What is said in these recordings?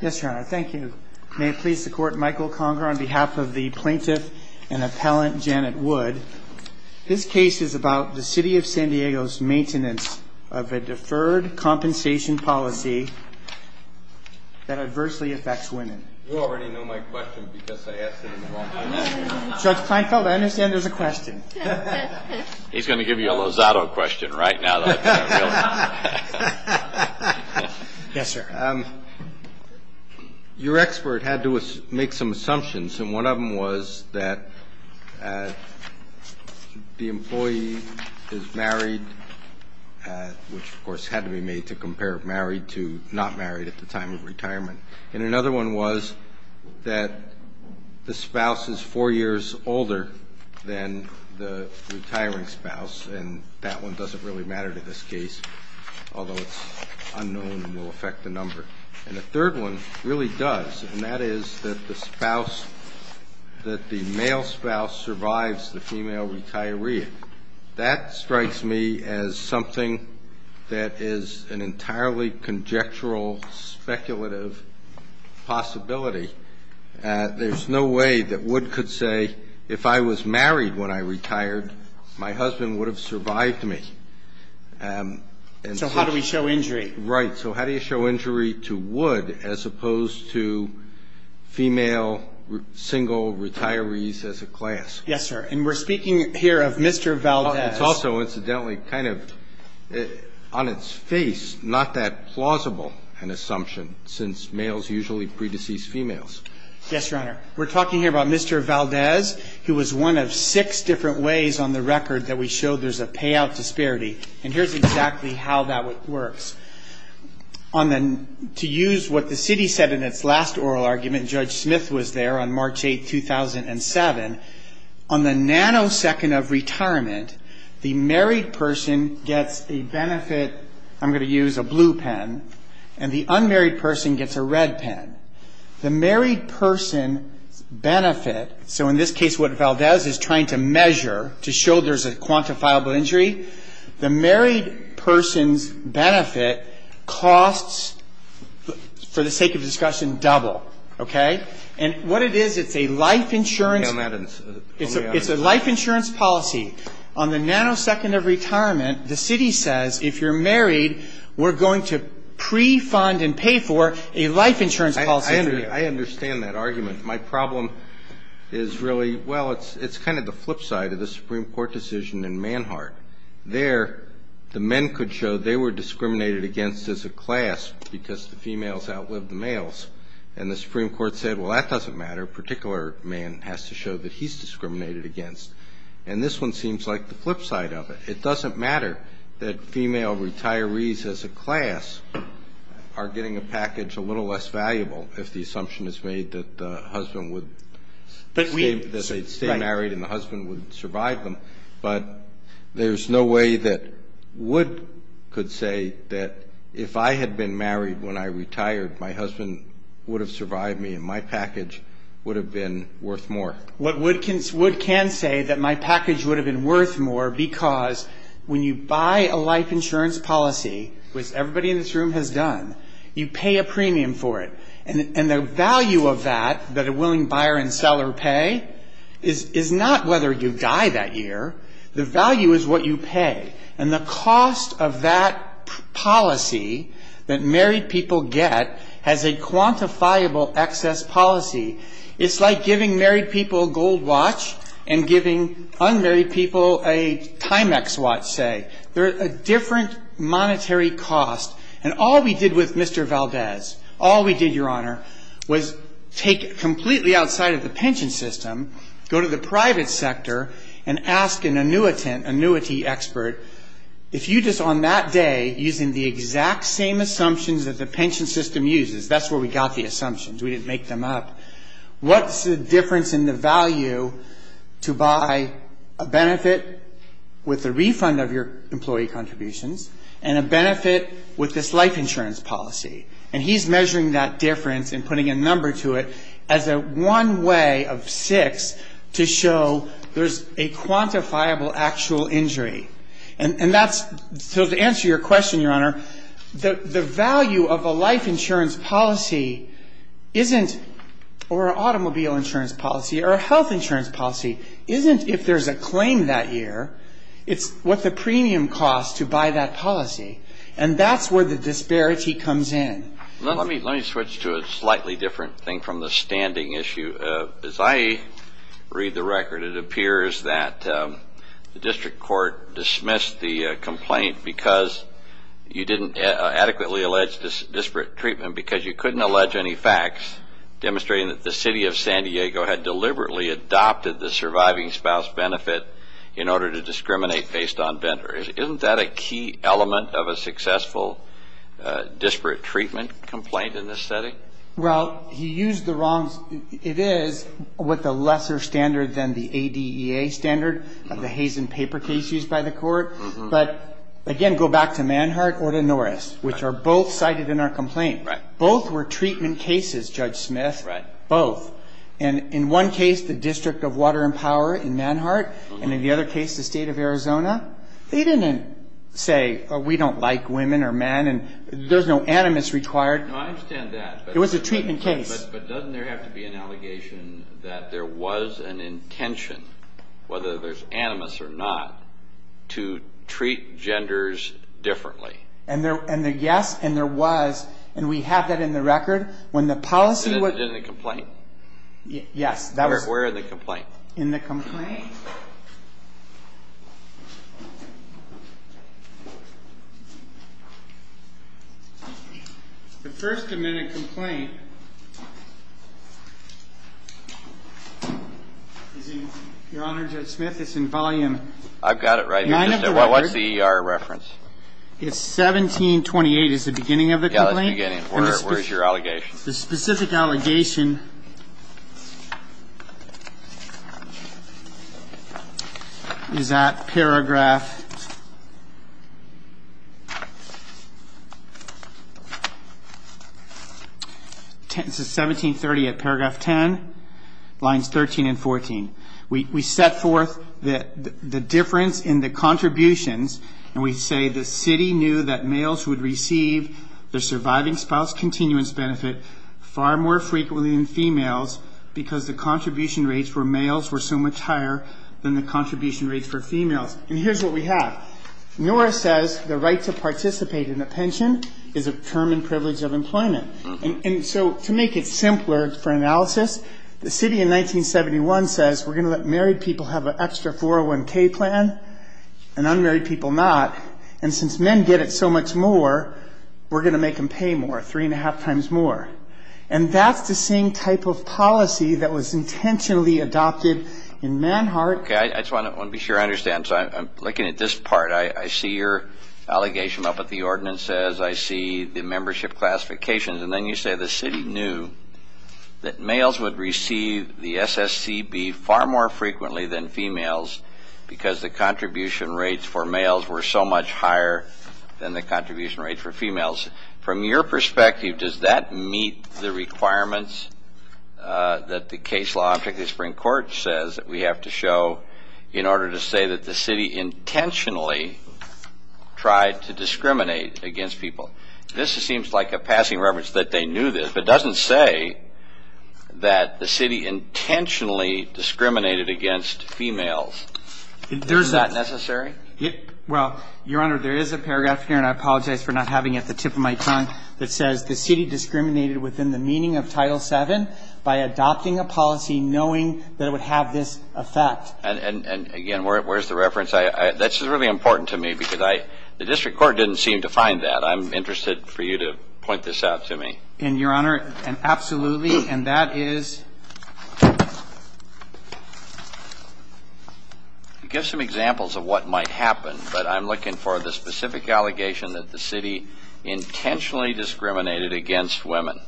Yes, your honor. Thank you. May it please the court, Michael Conger on behalf of the plaintiff and appellant Janet Wood. This case is about the City of San Diego's maintenance of a deferred compensation policy that adversely affects women. You already know my question because I asked it in the wrong place. Judge Kleinfeld, I understand there's a question. He's going to give you a Lozado question right now. Your expert had to make some assumptions and one of them was that the employee is married, which of course had to be made to compare married to not married at the time of retirement. And another one was that the spouse is four years older than the retiring spouse and that one doesn't really matter to this case, although it's unknown and will affect the number. And the third one really does, and that is that the spouse, that the male spouse survives the female retiree. That strikes me as something that is an entirely conjectural, speculative possibility. There's no way that Wood could say if I was married when I retired, my husband would have survived me. So how do we show injury? Right. So how do you show injury to Wood as opposed to female single retirees as a class? Yes, sir. And we're speaking here of Mr. Valdez. It's also incidentally kind of on its face not that plausible an assumption since males usually pre-decease females. Yes, Your Honor. We're talking here about Mr. Valdez, who was one of six different ways on the record that we showed there's a payout disparity. And here's exactly how that works. To use what the city said in its last oral argument, Judge Smith was there on March 8, 2007. On the nanosecond of retirement, the married person gets a benefit. I'm going to use a blue pen. And the unmarried person gets a red pen. The married person's benefit, so in this case what Valdez is trying to measure to show there's a quantifiable injury, the married person's benefit costs, for the sake of discussion, double. Okay? And what it is, it's a life insurance policy. On the nanosecond of retirement, the city says if you're married, we're going to pre-fund and pay for a life insurance policy for you. I understand that argument. My problem is really, well, it's kind of the flip side of the Supreme Court decision in Manhart. There, the men could show they were discriminated against as a class because the females outlived the males. And the Supreme Court said, well, that doesn't matter. A particular man has to show that he's discriminated against. And this one seems like the flip side of it. It doesn't matter that female retirees as a class are getting a package a little less valuable if the assumption is made that the husband would stay married and the husband would survive them. But there's no way that Wood could say that if I had been married when I retired, my husband would have survived me and my package would have been worth more. Wood can say that my package would have been worth more because when you buy a life insurance policy, which everybody in this room has done, you pay a premium for it. And the value of that, that a willing buyer and seller pay, is not whether you die that year. The value is what you pay. And the cost of that policy that married people get has a quantifiable excess policy. It's like giving married people a gold watch and giving unmarried people a Timex watch, say. They're at a different monetary cost. And all we did with Mr. Valdez, all we did, Your Honor, was take it completely outside of the pension system, go to the private sector, and ask an annuitant, annuity expert, if you just on that day, using the exact same assumptions that the pension system uses, that's where we got the assumptions, we didn't make them up, what's the difference in the value to buy a benefit with the refund of your employee contributions and a benefit with this life insurance policy? And he's measuring that difference and putting a number to it as a one way of six to show there's a quantifiable actual injury. And that's, so to answer your question, Your Honor, the value of a life insurance policy isn't, or an automobile insurance policy, or a health insurance policy, isn't if there's a claim that year. It's what the premium costs to buy that policy. And that's where the disparity comes in. Let me switch to a slightly different thing from the standing issue. As I read the record, it appears that the district court dismissed the complaint because you didn't adequately allege disparate treatment because you couldn't allege any facts demonstrating that the city of San Diego had deliberately adopted the surviving spouse benefit in order to discriminate based on vendors. Isn't that a key element of a successful disparate treatment complaint in this setting? Well, he used the wrongs. It is with a lesser standard than the ADEA standard of the Hazen paper case used by the court. But, again, go back to Manhart or to Norris, which are both cited in our complaint. Both were treatment cases, Judge Smith. Right. Both. And in one case, the District of Water and Power in Manhart, and in the other case, the state of Arizona, they didn't say, we don't like women or men and there's no animus required. No, I understand that. It was a treatment case. But doesn't there have to be an allegation that there was an intention, whether there's animus or not, to treat genders differently? Yes, and there was, and we have that in the record. In the complaint? Yes. Where in the complaint? In the complaint. The first admitted complaint is in, Your Honor, Judge Smith, it's in volume 9 of the record. I've got it right here. What's the ER reference? It's 1728 is the beginning of the complaint. Yeah, that's the beginning. Where's your allegation? The specific allegation is at paragraph 1730 at paragraph 10, lines 13 and 14. We set forth the difference in the contributions, and we say the city knew that males would receive their surviving spouse continuance benefit far more frequently than females because the contribution rates for males were so much higher than the contribution rates for females. And here's what we have. Norah says the right to participate in a pension is a term and privilege of employment. And so to make it simpler for analysis, the city in 1971 says we're going to let married people have an extra 401K plan and unmarried people not. And since men get it so much more, we're going to make them pay more, three and a half times more. And that's the same type of policy that was intentionally adopted in Manhart. Okay, I just want to be sure I understand. So I'm looking at this part. I see your allegation up at the ordinance. I see the membership classification. And then you say the city knew that males would receive the SSCB far more frequently than females because the contribution rates for males were so much higher than the contribution rates for females. From your perspective, does that meet the requirements that the case law, particularly the Supreme Court, says that we have to show in order to say that the city intentionally tried to discriminate against people? This seems like a passing reference that they knew this, but it doesn't say that the city intentionally discriminated against females. Is that necessary? Well, Your Honor, there is a paragraph here, and I apologize for not having it at the tip of my tongue, that says the city discriminated within the meaning of Title VII by adopting a policy knowing that it would have this effect. And, again, where's the reference? That's really important to me because the district court didn't seem to find that. But I'm interested for you to point this out to me. And, Your Honor, absolutely. And that is? Give some examples of what might happen, but I'm looking for the specific allegation that the city intentionally discriminated against women.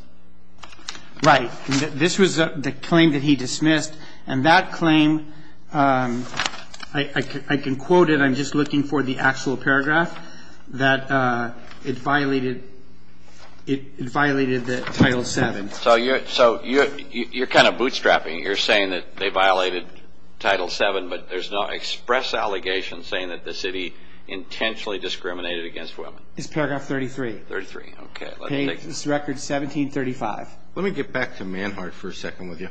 Right. This was the claim that he dismissed. And that claim, I can quote it. But I'm just looking for the actual paragraph that it violated the Title VII. So you're kind of bootstrapping. You're saying that they violated Title VII, but there's no express allegation saying that the city intentionally discriminated against women. It's paragraph 33. 33. Okay. Page record 1735. Let me get back to Manhart for a second with you.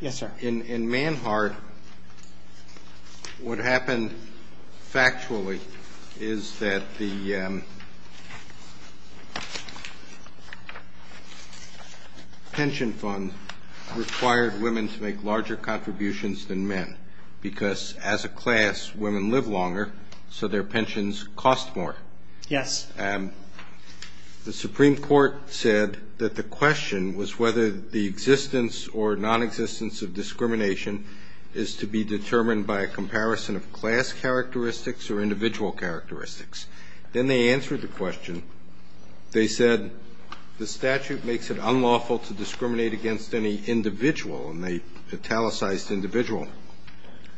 Yes, sir. In Manhart, what happened factually is that the pension fund required women to make larger contributions than men because, as a class, women live longer, so their pensions cost more. Yes. The Supreme Court said that the question was whether the existence or nonexistence of discrimination is to be determined by a comparison of class characteristics or individual characteristics. Then they answered the question. They said the statute makes it unlawful to discriminate against any individual, and they italicized individual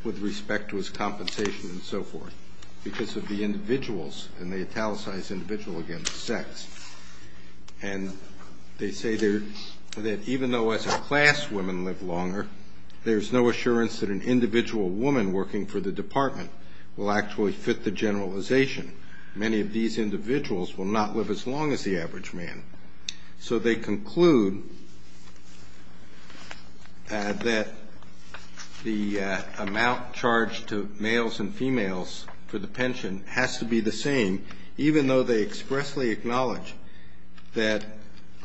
with respect to his compensation and so forth, because of the individuals, and they italicized individual against sex. And they say that even though, as a class, women live longer, there's no assurance that an individual woman working for the department will actually fit the generalization. Many of these individuals will not live as long as the average man. So they conclude that the amount charged to males and females for the pension has to be the same, even though they expressly acknowledge that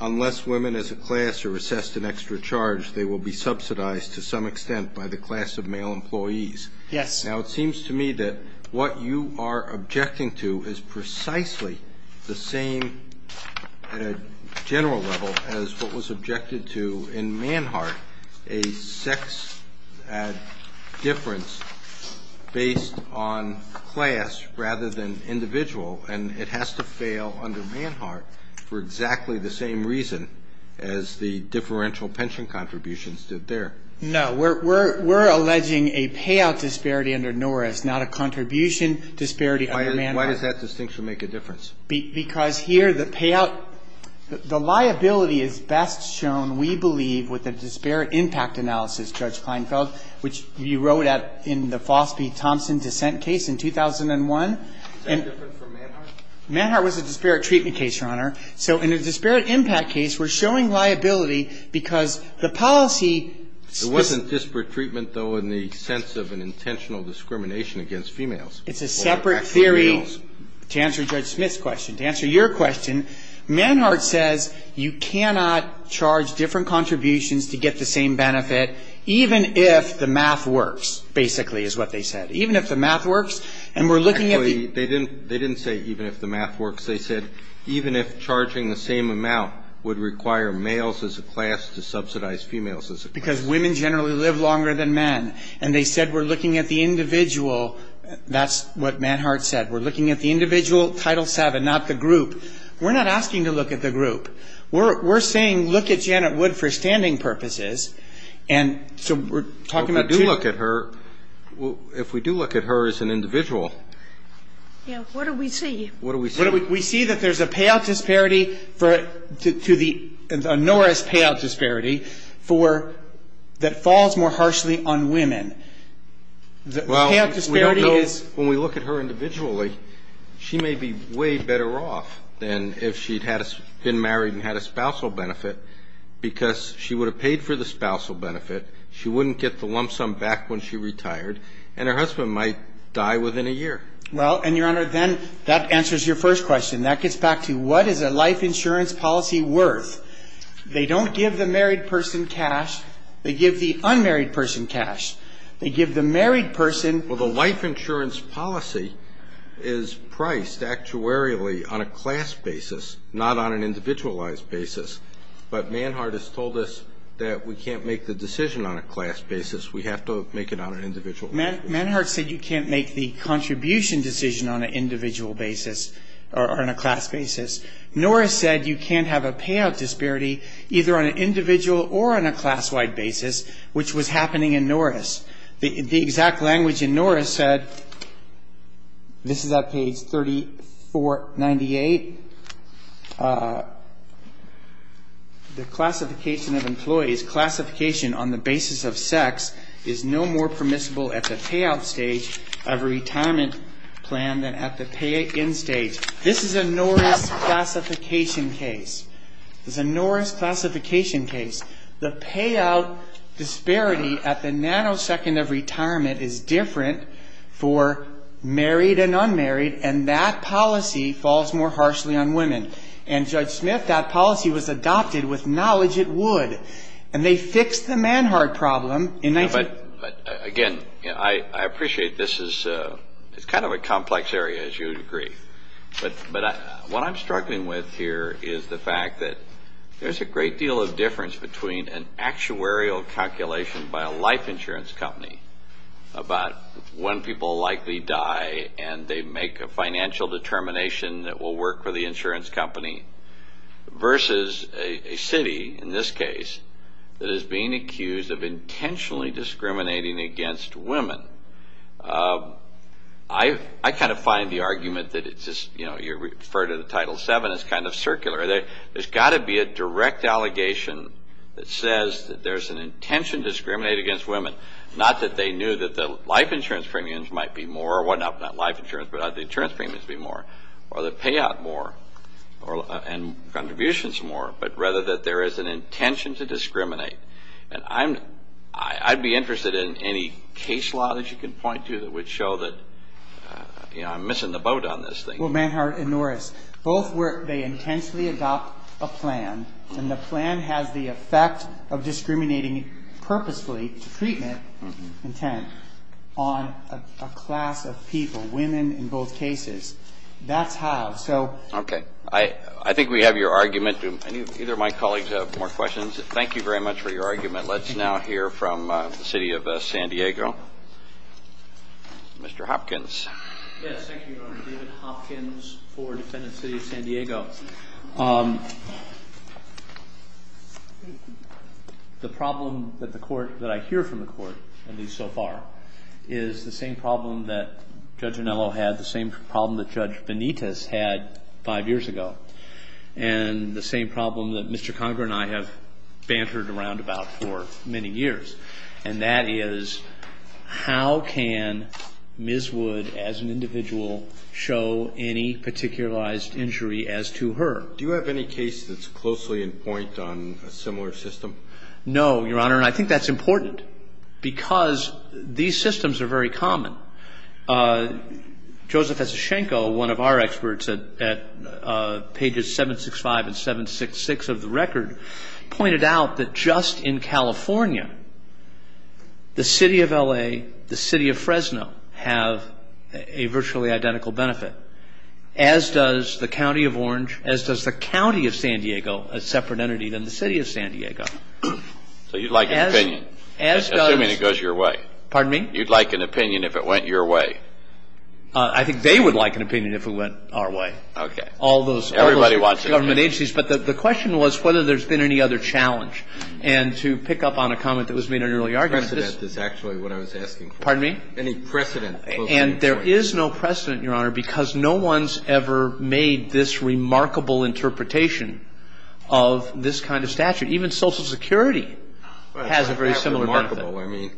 unless women as a class are assessed an extra charge, they will be subsidized to some extent by the class of male employees. Yes. Now, it seems to me that what you are objecting to is precisely the same at a general level as what was objected to in Manhart, a sex difference based on class rather than individual, and it has to fail under Manhart for exactly the same reason as the differential pension contributions did there. No. We're alleging a payout disparity under Norris, not a contribution disparity under Manhart. Why does that distinction make a difference? Because here the payout, the liability is best shown, we believe, with a disparate impact analysis, Judge Kleinfeld, which you wrote in the Fosby-Thompson dissent case in 2001. Is that different from Manhart? Manhart was a disparate treatment case, Your Honor. So in a disparate impact case, we're showing liability because the policy ---- There wasn't disparate treatment, though, in the sense of an intentional discrimination against females. It's a separate theory to answer Judge Smith's question. To answer your question, Manhart says you cannot charge different contributions to get the same benefit even if the math works, basically is what they said. Even if the math works, and we're looking at the ---- Actually, they didn't say even if the math works. They said even if charging the same amount would require males as a class to subsidize females as a class. Because women generally live longer than men. And they said we're looking at the individual. That's what Manhart said. We're looking at the individual, Title VII, not the group. We're not asking to look at the group. We're saying look at Janet Wood for standing purposes. And so we're talking about two ---- If we do look at her, if we do look at her as an individual ---- Yeah. What do we see? What do we see? We see that there's a payout disparity to the Norris payout disparity that falls more harshly on women. The payout disparity is ---- Well, we don't know. When we look at her individually, she may be way better off than if she had been married and had a spousal benefit because she would have paid for the spousal benefit. She wouldn't get the lump sum back when she retired. And her husband might die within a year. Well, and, Your Honor, then that answers your first question. That gets back to what is a life insurance policy worth? They don't give the married person cash. They give the unmarried person cash. They give the married person ---- Well, the life insurance policy is priced actuarially on a class basis, not on an individualized basis. But Manhart has told us that we can't make the decision on a class basis. We have to make it on an individual basis. Manhart said you can't make the contribution decision on an individual basis or on a class basis. Norris said you can't have a payout disparity either on an individual or on a class-wide basis, which was happening in Norris. The exact language in Norris said, this is at page 3498, the classification of employees, classification on the basis of sex, is no more permissible at the payout stage of a retirement plan than at the pay-in stage. This is a Norris classification case. This is a Norris classification case. The payout disparity at the nanosecond of retirement is different for married and unmarried, and that policy falls more harshly on women. And, Judge Smith, that policy was adopted with knowledge it would. And they fixed the Manhart problem in 19---- But, again, I appreciate this is kind of a complex area, as you would agree. But what I'm struggling with here is the fact that there's a great deal of difference between an actuarial calculation by a life insurance company about when people likely die and they make a financial determination that will work for the insurance company versus a city, in this case, that is being accused of intentionally discriminating against women. I kind of find the argument that it's just, you know, you refer to the Title VII as kind of circular. There's got to be a direct allegation that says that there's an intention to discriminate against women, not that they knew that the life insurance premiums might be more or whatnot, not life insurance, but the insurance premiums be more, or the payout more and contributions more, but rather that there is an intention to discriminate. And I'd be interested in any case law that you can point to that would show that, you know, I'm missing the boat on this thing. Well, Manhart and Norris, both work, they intensely adopt a plan, and the plan has the effect of discriminating purposefully treatment intent on a class of people, women in both cases. That's how, so. Okay. I think we have your argument. Do either of my colleagues have more questions? Thank you very much for your argument. Let's now hear from the City of San Diego. Mr. Hopkins. Yes, thank you, Your Honor. David Hopkins for Defendant City of San Diego. The problem that the court, that I hear from the court, at least so far, is the same problem that Judge Anello had, the same problem that Judge Benitez had five years ago, and the same problem that Mr. Conger and I have bantered around about for many years, and that is how can Ms. Wood, as an individual, show any particularized injury as to her? Do you have any case that's closely in point on a similar system? No, Your Honor, and I think that's important because these systems are very common. Joseph Esashenko, one of our experts at pages 765 and 766 of the record, pointed out that just in California, the City of L.A., the City of Fresno have a virtually identical benefit, as does the County of Orange, as does the County of San Diego, a separate entity than the City of San Diego. So you'd like an opinion, assuming it goes your way? Pardon me? You'd like an opinion if it went your way? I think they would like an opinion if it went our way. Okay. All those government agencies, but the question was whether there's been any other challenge, and to pick up on a comment that was made in an earlier argument. Any precedent is actually what I was asking for. Pardon me? Any precedent. And there is no precedent, Your Honor, because no one's ever made this remarkable interpretation of this kind of statute. Even Social Security has a very similar benefit. I mean,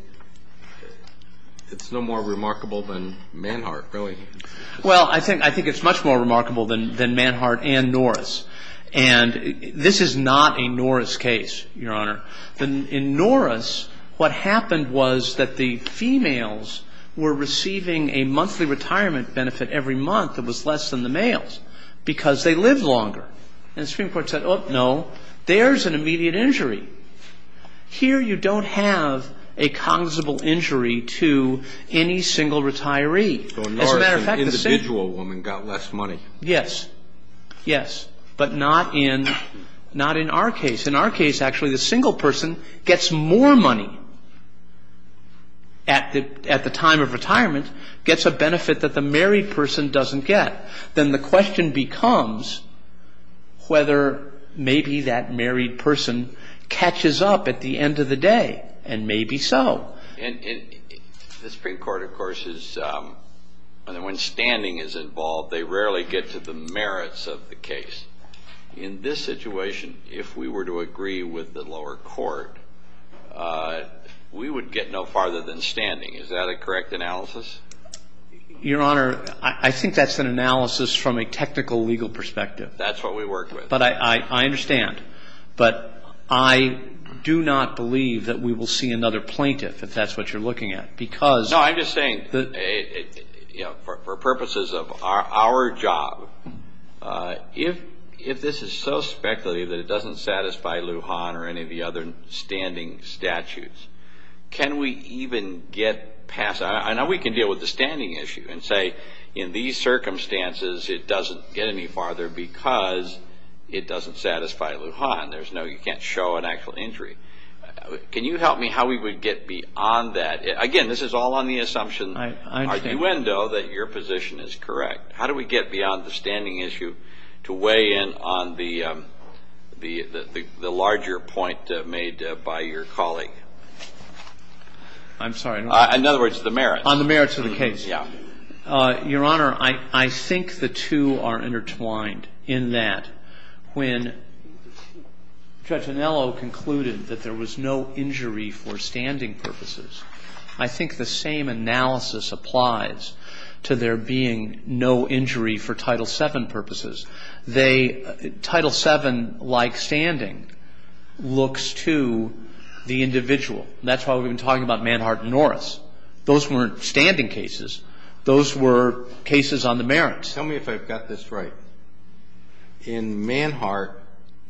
it's no more remarkable than Manhart, really. Well, I think it's much more remarkable than Manhart and Norris, and this is not a Norris case, Your Honor. In Norris, what happened was that the females were receiving a monthly retirement benefit every month that was less than the males because they lived longer. And the Supreme Court said, oh, no, there's an immediate injury. Here you don't have a cognizable injury to any single retiree. As a matter of fact, the same thing. So Norris, an individual woman, got less money. Yes. Yes. But not in our case. In our case, actually, the single person gets more money at the time of retirement, gets a benefit that the married person doesn't get. Then the question becomes whether maybe that married person catches up at the end of the day, and maybe so. And the Supreme Court, of course, when standing is involved, they rarely get to the merits of the case. In this situation, if we were to agree with the lower court, we would get no farther than standing. Is that a correct analysis? Your Honor, I think that's an analysis from a technical legal perspective. That's what we worked with. But I understand. But I do not believe that we will see another plaintiff, if that's what you're looking at. No, I'm just saying, for purposes of our job, if this is so speculative that it doesn't satisfy Lujan or any of the other standing statutes, can we even get past that? I know we can deal with the standing issue and say, in these circumstances, it doesn't get any farther because it doesn't satisfy Lujan. You can't show an actual injury. Can you help me how we would get beyond that? Again, this is all on the assumption, arguendo, that your position is correct. How do we get beyond the standing issue to weigh in on the larger point made by your colleague? I'm sorry. In other words, the merits. On the merits of the case. Yeah. Your Honor, I think the two are intertwined in that when Judge Anello concluded that there was no injury for standing purposes, I think the same analysis applies to there being no injury for Title VII purposes. Title VII, like standing, looks to the individual. That's why we've been talking about Manhart and Norris. Those weren't standing cases. Those were cases on the merits. Tell me if I've got this right. In Manhart,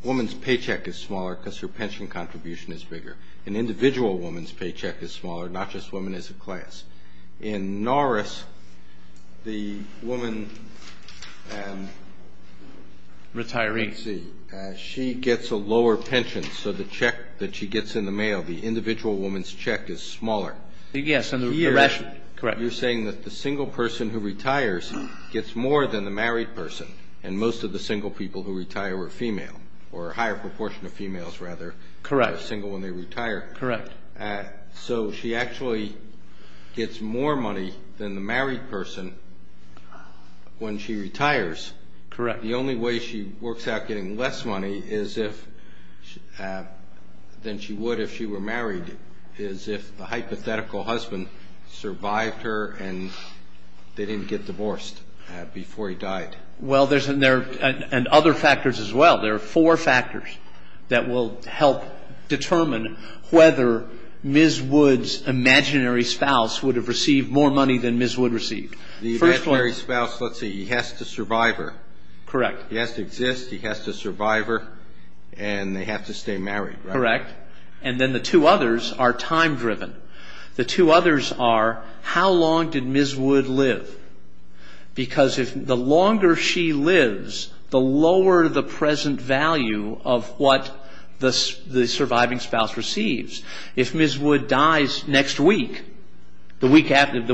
a woman's paycheck is smaller because her pension contribution is bigger. An individual woman's paycheck is smaller. Not just women as a class. In Norris, the woman. Retiree. Let's see. She gets a lower pension, so the check that she gets in the mail, the individual woman's check is smaller. Yes. Correct. You're saying that the single person who retires gets more than the married person. And most of the single people who retire are female. Or a higher proportion of females, rather, are single when they retire. Correct. So she actually gets more money than the married person when she retires. Correct. The only way she works out getting less money than she would if she were married is if the hypothetical husband survived her and they didn't get divorced before he died. Well, there's other factors as well. There are four factors that will help determine whether Ms. Woods' imaginary spouse would have received more money than Ms. Woods received. The imaginary spouse, let's say he has to survive her. Correct. He has to exist, he has to survive her, and they have to stay married, right? Correct. And then the two others are time-driven. The two others are how long did Ms. Woods live? Because the longer she lives, the lower the present value of what the surviving spouse receives. If Ms. Woods dies next week, the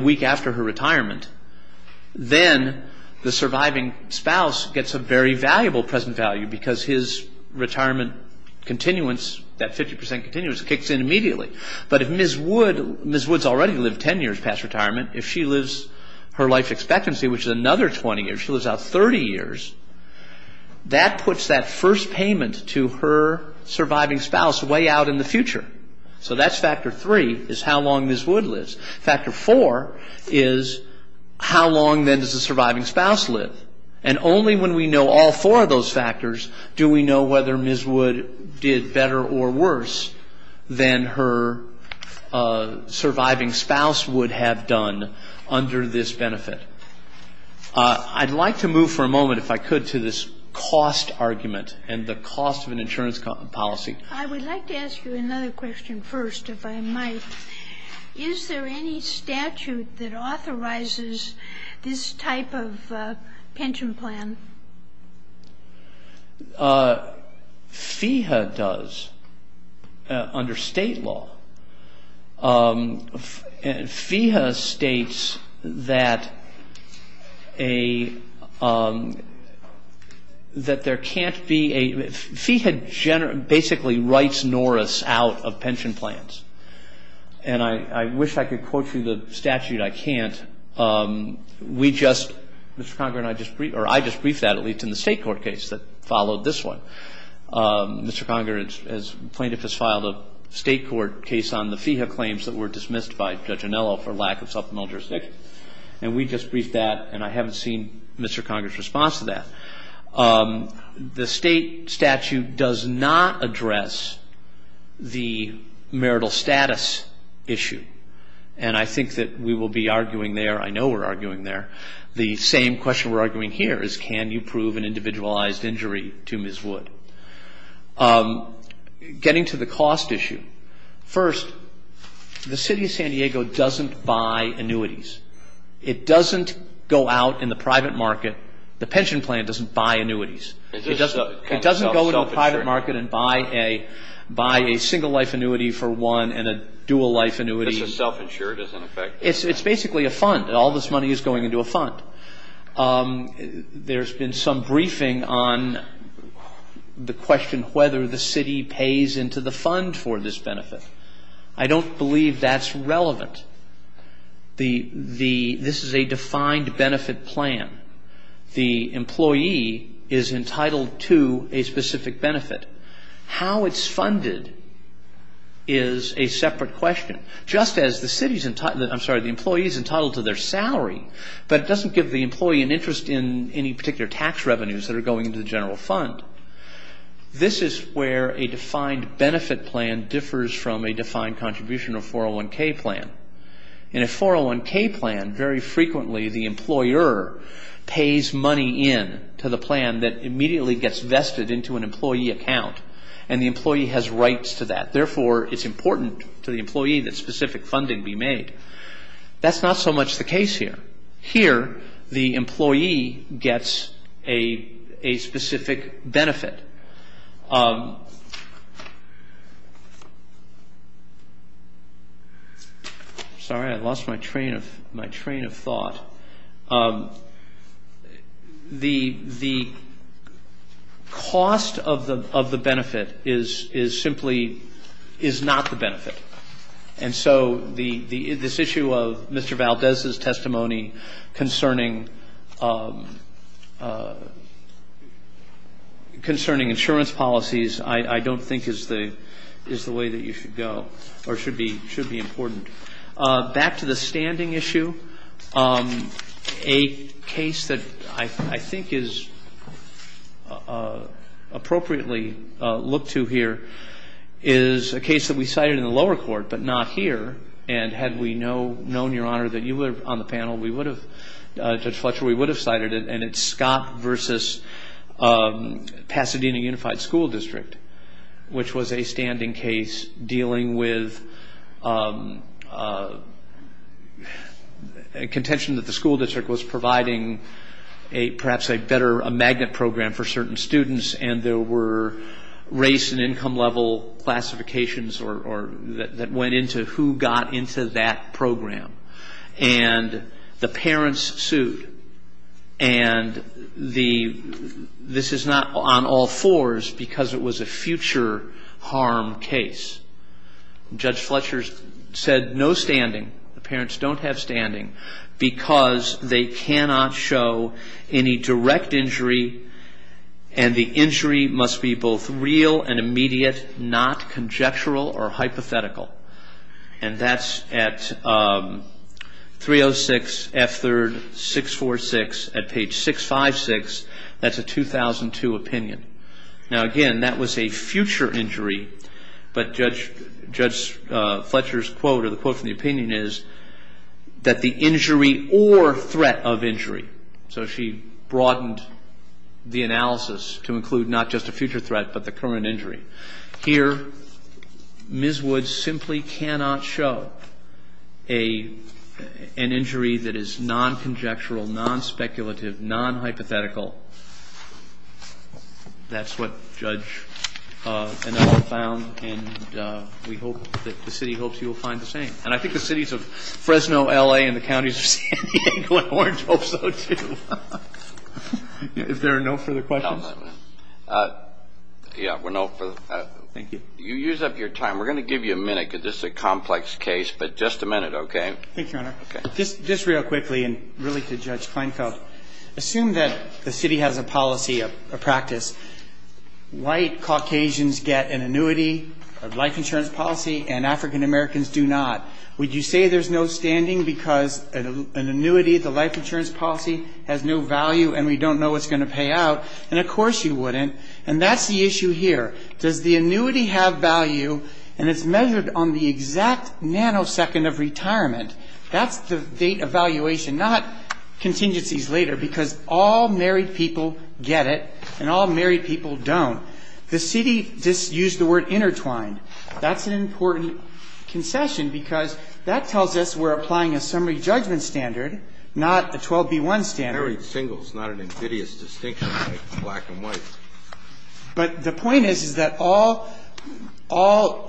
week after her retirement, then the surviving spouse gets a very valuable present value because his retirement continuance, that 50% continuance, kicks in immediately. But if Ms. Woods already lived 10 years past retirement, if she lives her life expectancy, which is another 20 years, if she lives out 30 years, that puts that first payment to her surviving spouse way out in the future. So that's factor three, is how long Ms. Woods lives. Factor four is how long then does the surviving spouse live? And only when we know all four of those factors do we know whether Ms. Woods did better or worse than her surviving spouse would have done under this benefit. I'd like to move for a moment, if I could, to this cost argument and the cost of an insurance policy. I would like to ask you another question first, if I might. Is there any statute that authorizes this type of pension plan? FEHA does, under state law. FEHA states that there can't be a, FEHA basically writes Norris out of pension plans. And I wish I could quote you the statute, I can't. We just, Mr. Conger and I just, or I just briefed that, at least in the state court case that followed this one. Mr. Conger, as plaintiff, has filed a state court case on the FEHA claims that were dismissed by Judge Anello for lack of supplemental jurisdiction. And we just briefed that, and I haven't seen Mr. Conger's response to that. The state statute does not address the marital status issue. And I think that we will be arguing there, I know we're arguing there, the same question we're arguing here is, can you prove an individualized injury to Ms. Wood? Getting to the cost issue. First, the city of San Diego doesn't buy annuities. It doesn't go out in the private market, the pension plan doesn't buy annuities. It doesn't go into the private market and buy a single life annuity for one and a dual life annuity. It's a self-insured as an effect. It's basically a fund. All this money is going into a fund. There's been some briefing on the question whether the city pays into the fund for this benefit. I don't believe that's relevant. This is a defined benefit plan. The employee is entitled to a specific benefit. How it's funded is a separate question. Just as the city's entitled, I'm sorry, the employee's entitled to their salary, but it doesn't give the employee an interest in any particular tax revenues that are going into the general fund. This is where a defined benefit plan differs from a defined contribution or 401k plan. In a 401k plan, very frequently the employer pays money in to the plan that immediately gets vested into an employee account, and the employee has rights to that. Therefore, it's important to the employee that specific funding be made. That's not so much the case here. Here, the employee gets a specific benefit. Sorry, I lost my train of thought. The cost of the benefit is simply is not the benefit. And so this issue of Mr. Valdez's testimony concerning insurance policies I don't think is the way that you should go or should be important. Back to the standing issue, a case that I think is appropriately looked to here is a case that we cited in the lower court, but not here, and had we known, Your Honor, that you were on the panel, Judge Fletcher, we would have cited it, and it's Scott versus Pasadena Unified School District, which was a standing case dealing with contention that the school district was providing perhaps a magnet program for certain students, and there were race and income level classifications that went into who got into that program. And the parents sued. And this is not on all fours because it was a future harm case. Judge Fletcher said no standing, the parents don't have standing, because they cannot show any direct injury, and the injury must be both real and immediate, not conjectural or hypothetical. And that's at 306 F3rd 646 at page 656. That's a 2002 opinion. Now, again, that was a future injury, but Judge Fletcher's quote or the quote from the opinion is that the injury or threat of injury, so she broadened the analysis to include not just a future threat but the current injury. Here, Ms. Woods simply cannot show an injury that is non-conjectural, non-speculative, non-hypothetical. That's what Judge Enel found, and we hope that the city hopes you will find the same. And I think the cities of Fresno, L.A., and the counties of San Diego and Orange hope so, too. If there are no further questions. Yeah, we're no further. Thank you. You used up your time. We're going to give you a minute because this is a complex case, but just a minute, okay? Thank you, Your Honor. Okay. Just real quickly, and really to Judge Kleinfeld, assume that the city has a policy, a practice. White Caucasians get an annuity of life insurance policy, and African Americans do not. Would you say there's no standing because an annuity of the life insurance policy has no value and we don't know what's going to pay out? And, of course, you wouldn't, and that's the issue here. Does the annuity have value and it's measured on the exact nanosecond of retirement? That's the date of valuation, not contingencies later, because all married people get it, and all married people don't. The city just used the word intertwined. That's an important concession because that tells us we're applying a summary judgment standard, not a 12B1 standard. Married singles, not an invidious distinction like black and white. But the point is, is that all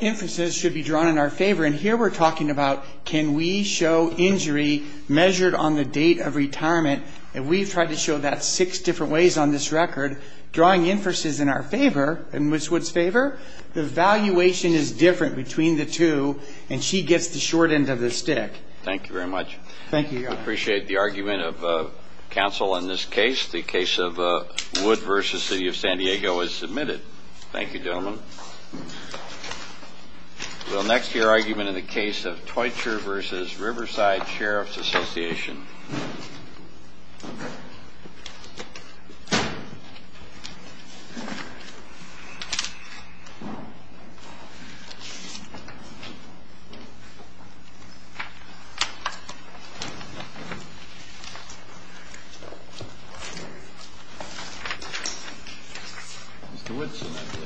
inferences should be drawn in our favor, and here we're talking about can we show injury measured on the date of retirement, and we've tried to show that six different ways on this record. Drawing inferences in our favor, in Ms. Wood's favor, the valuation is different between the two, and she gets the short end of the stick. Thank you very much. Thank you, Your Honor. I appreciate the argument of counsel in this case. The case of Wood v. City of San Diego is submitted. Thank you, gentlemen. We'll next hear argument in the case of Toitcher v. Riverside Sheriff's Association. Mr. Woodson, I believe.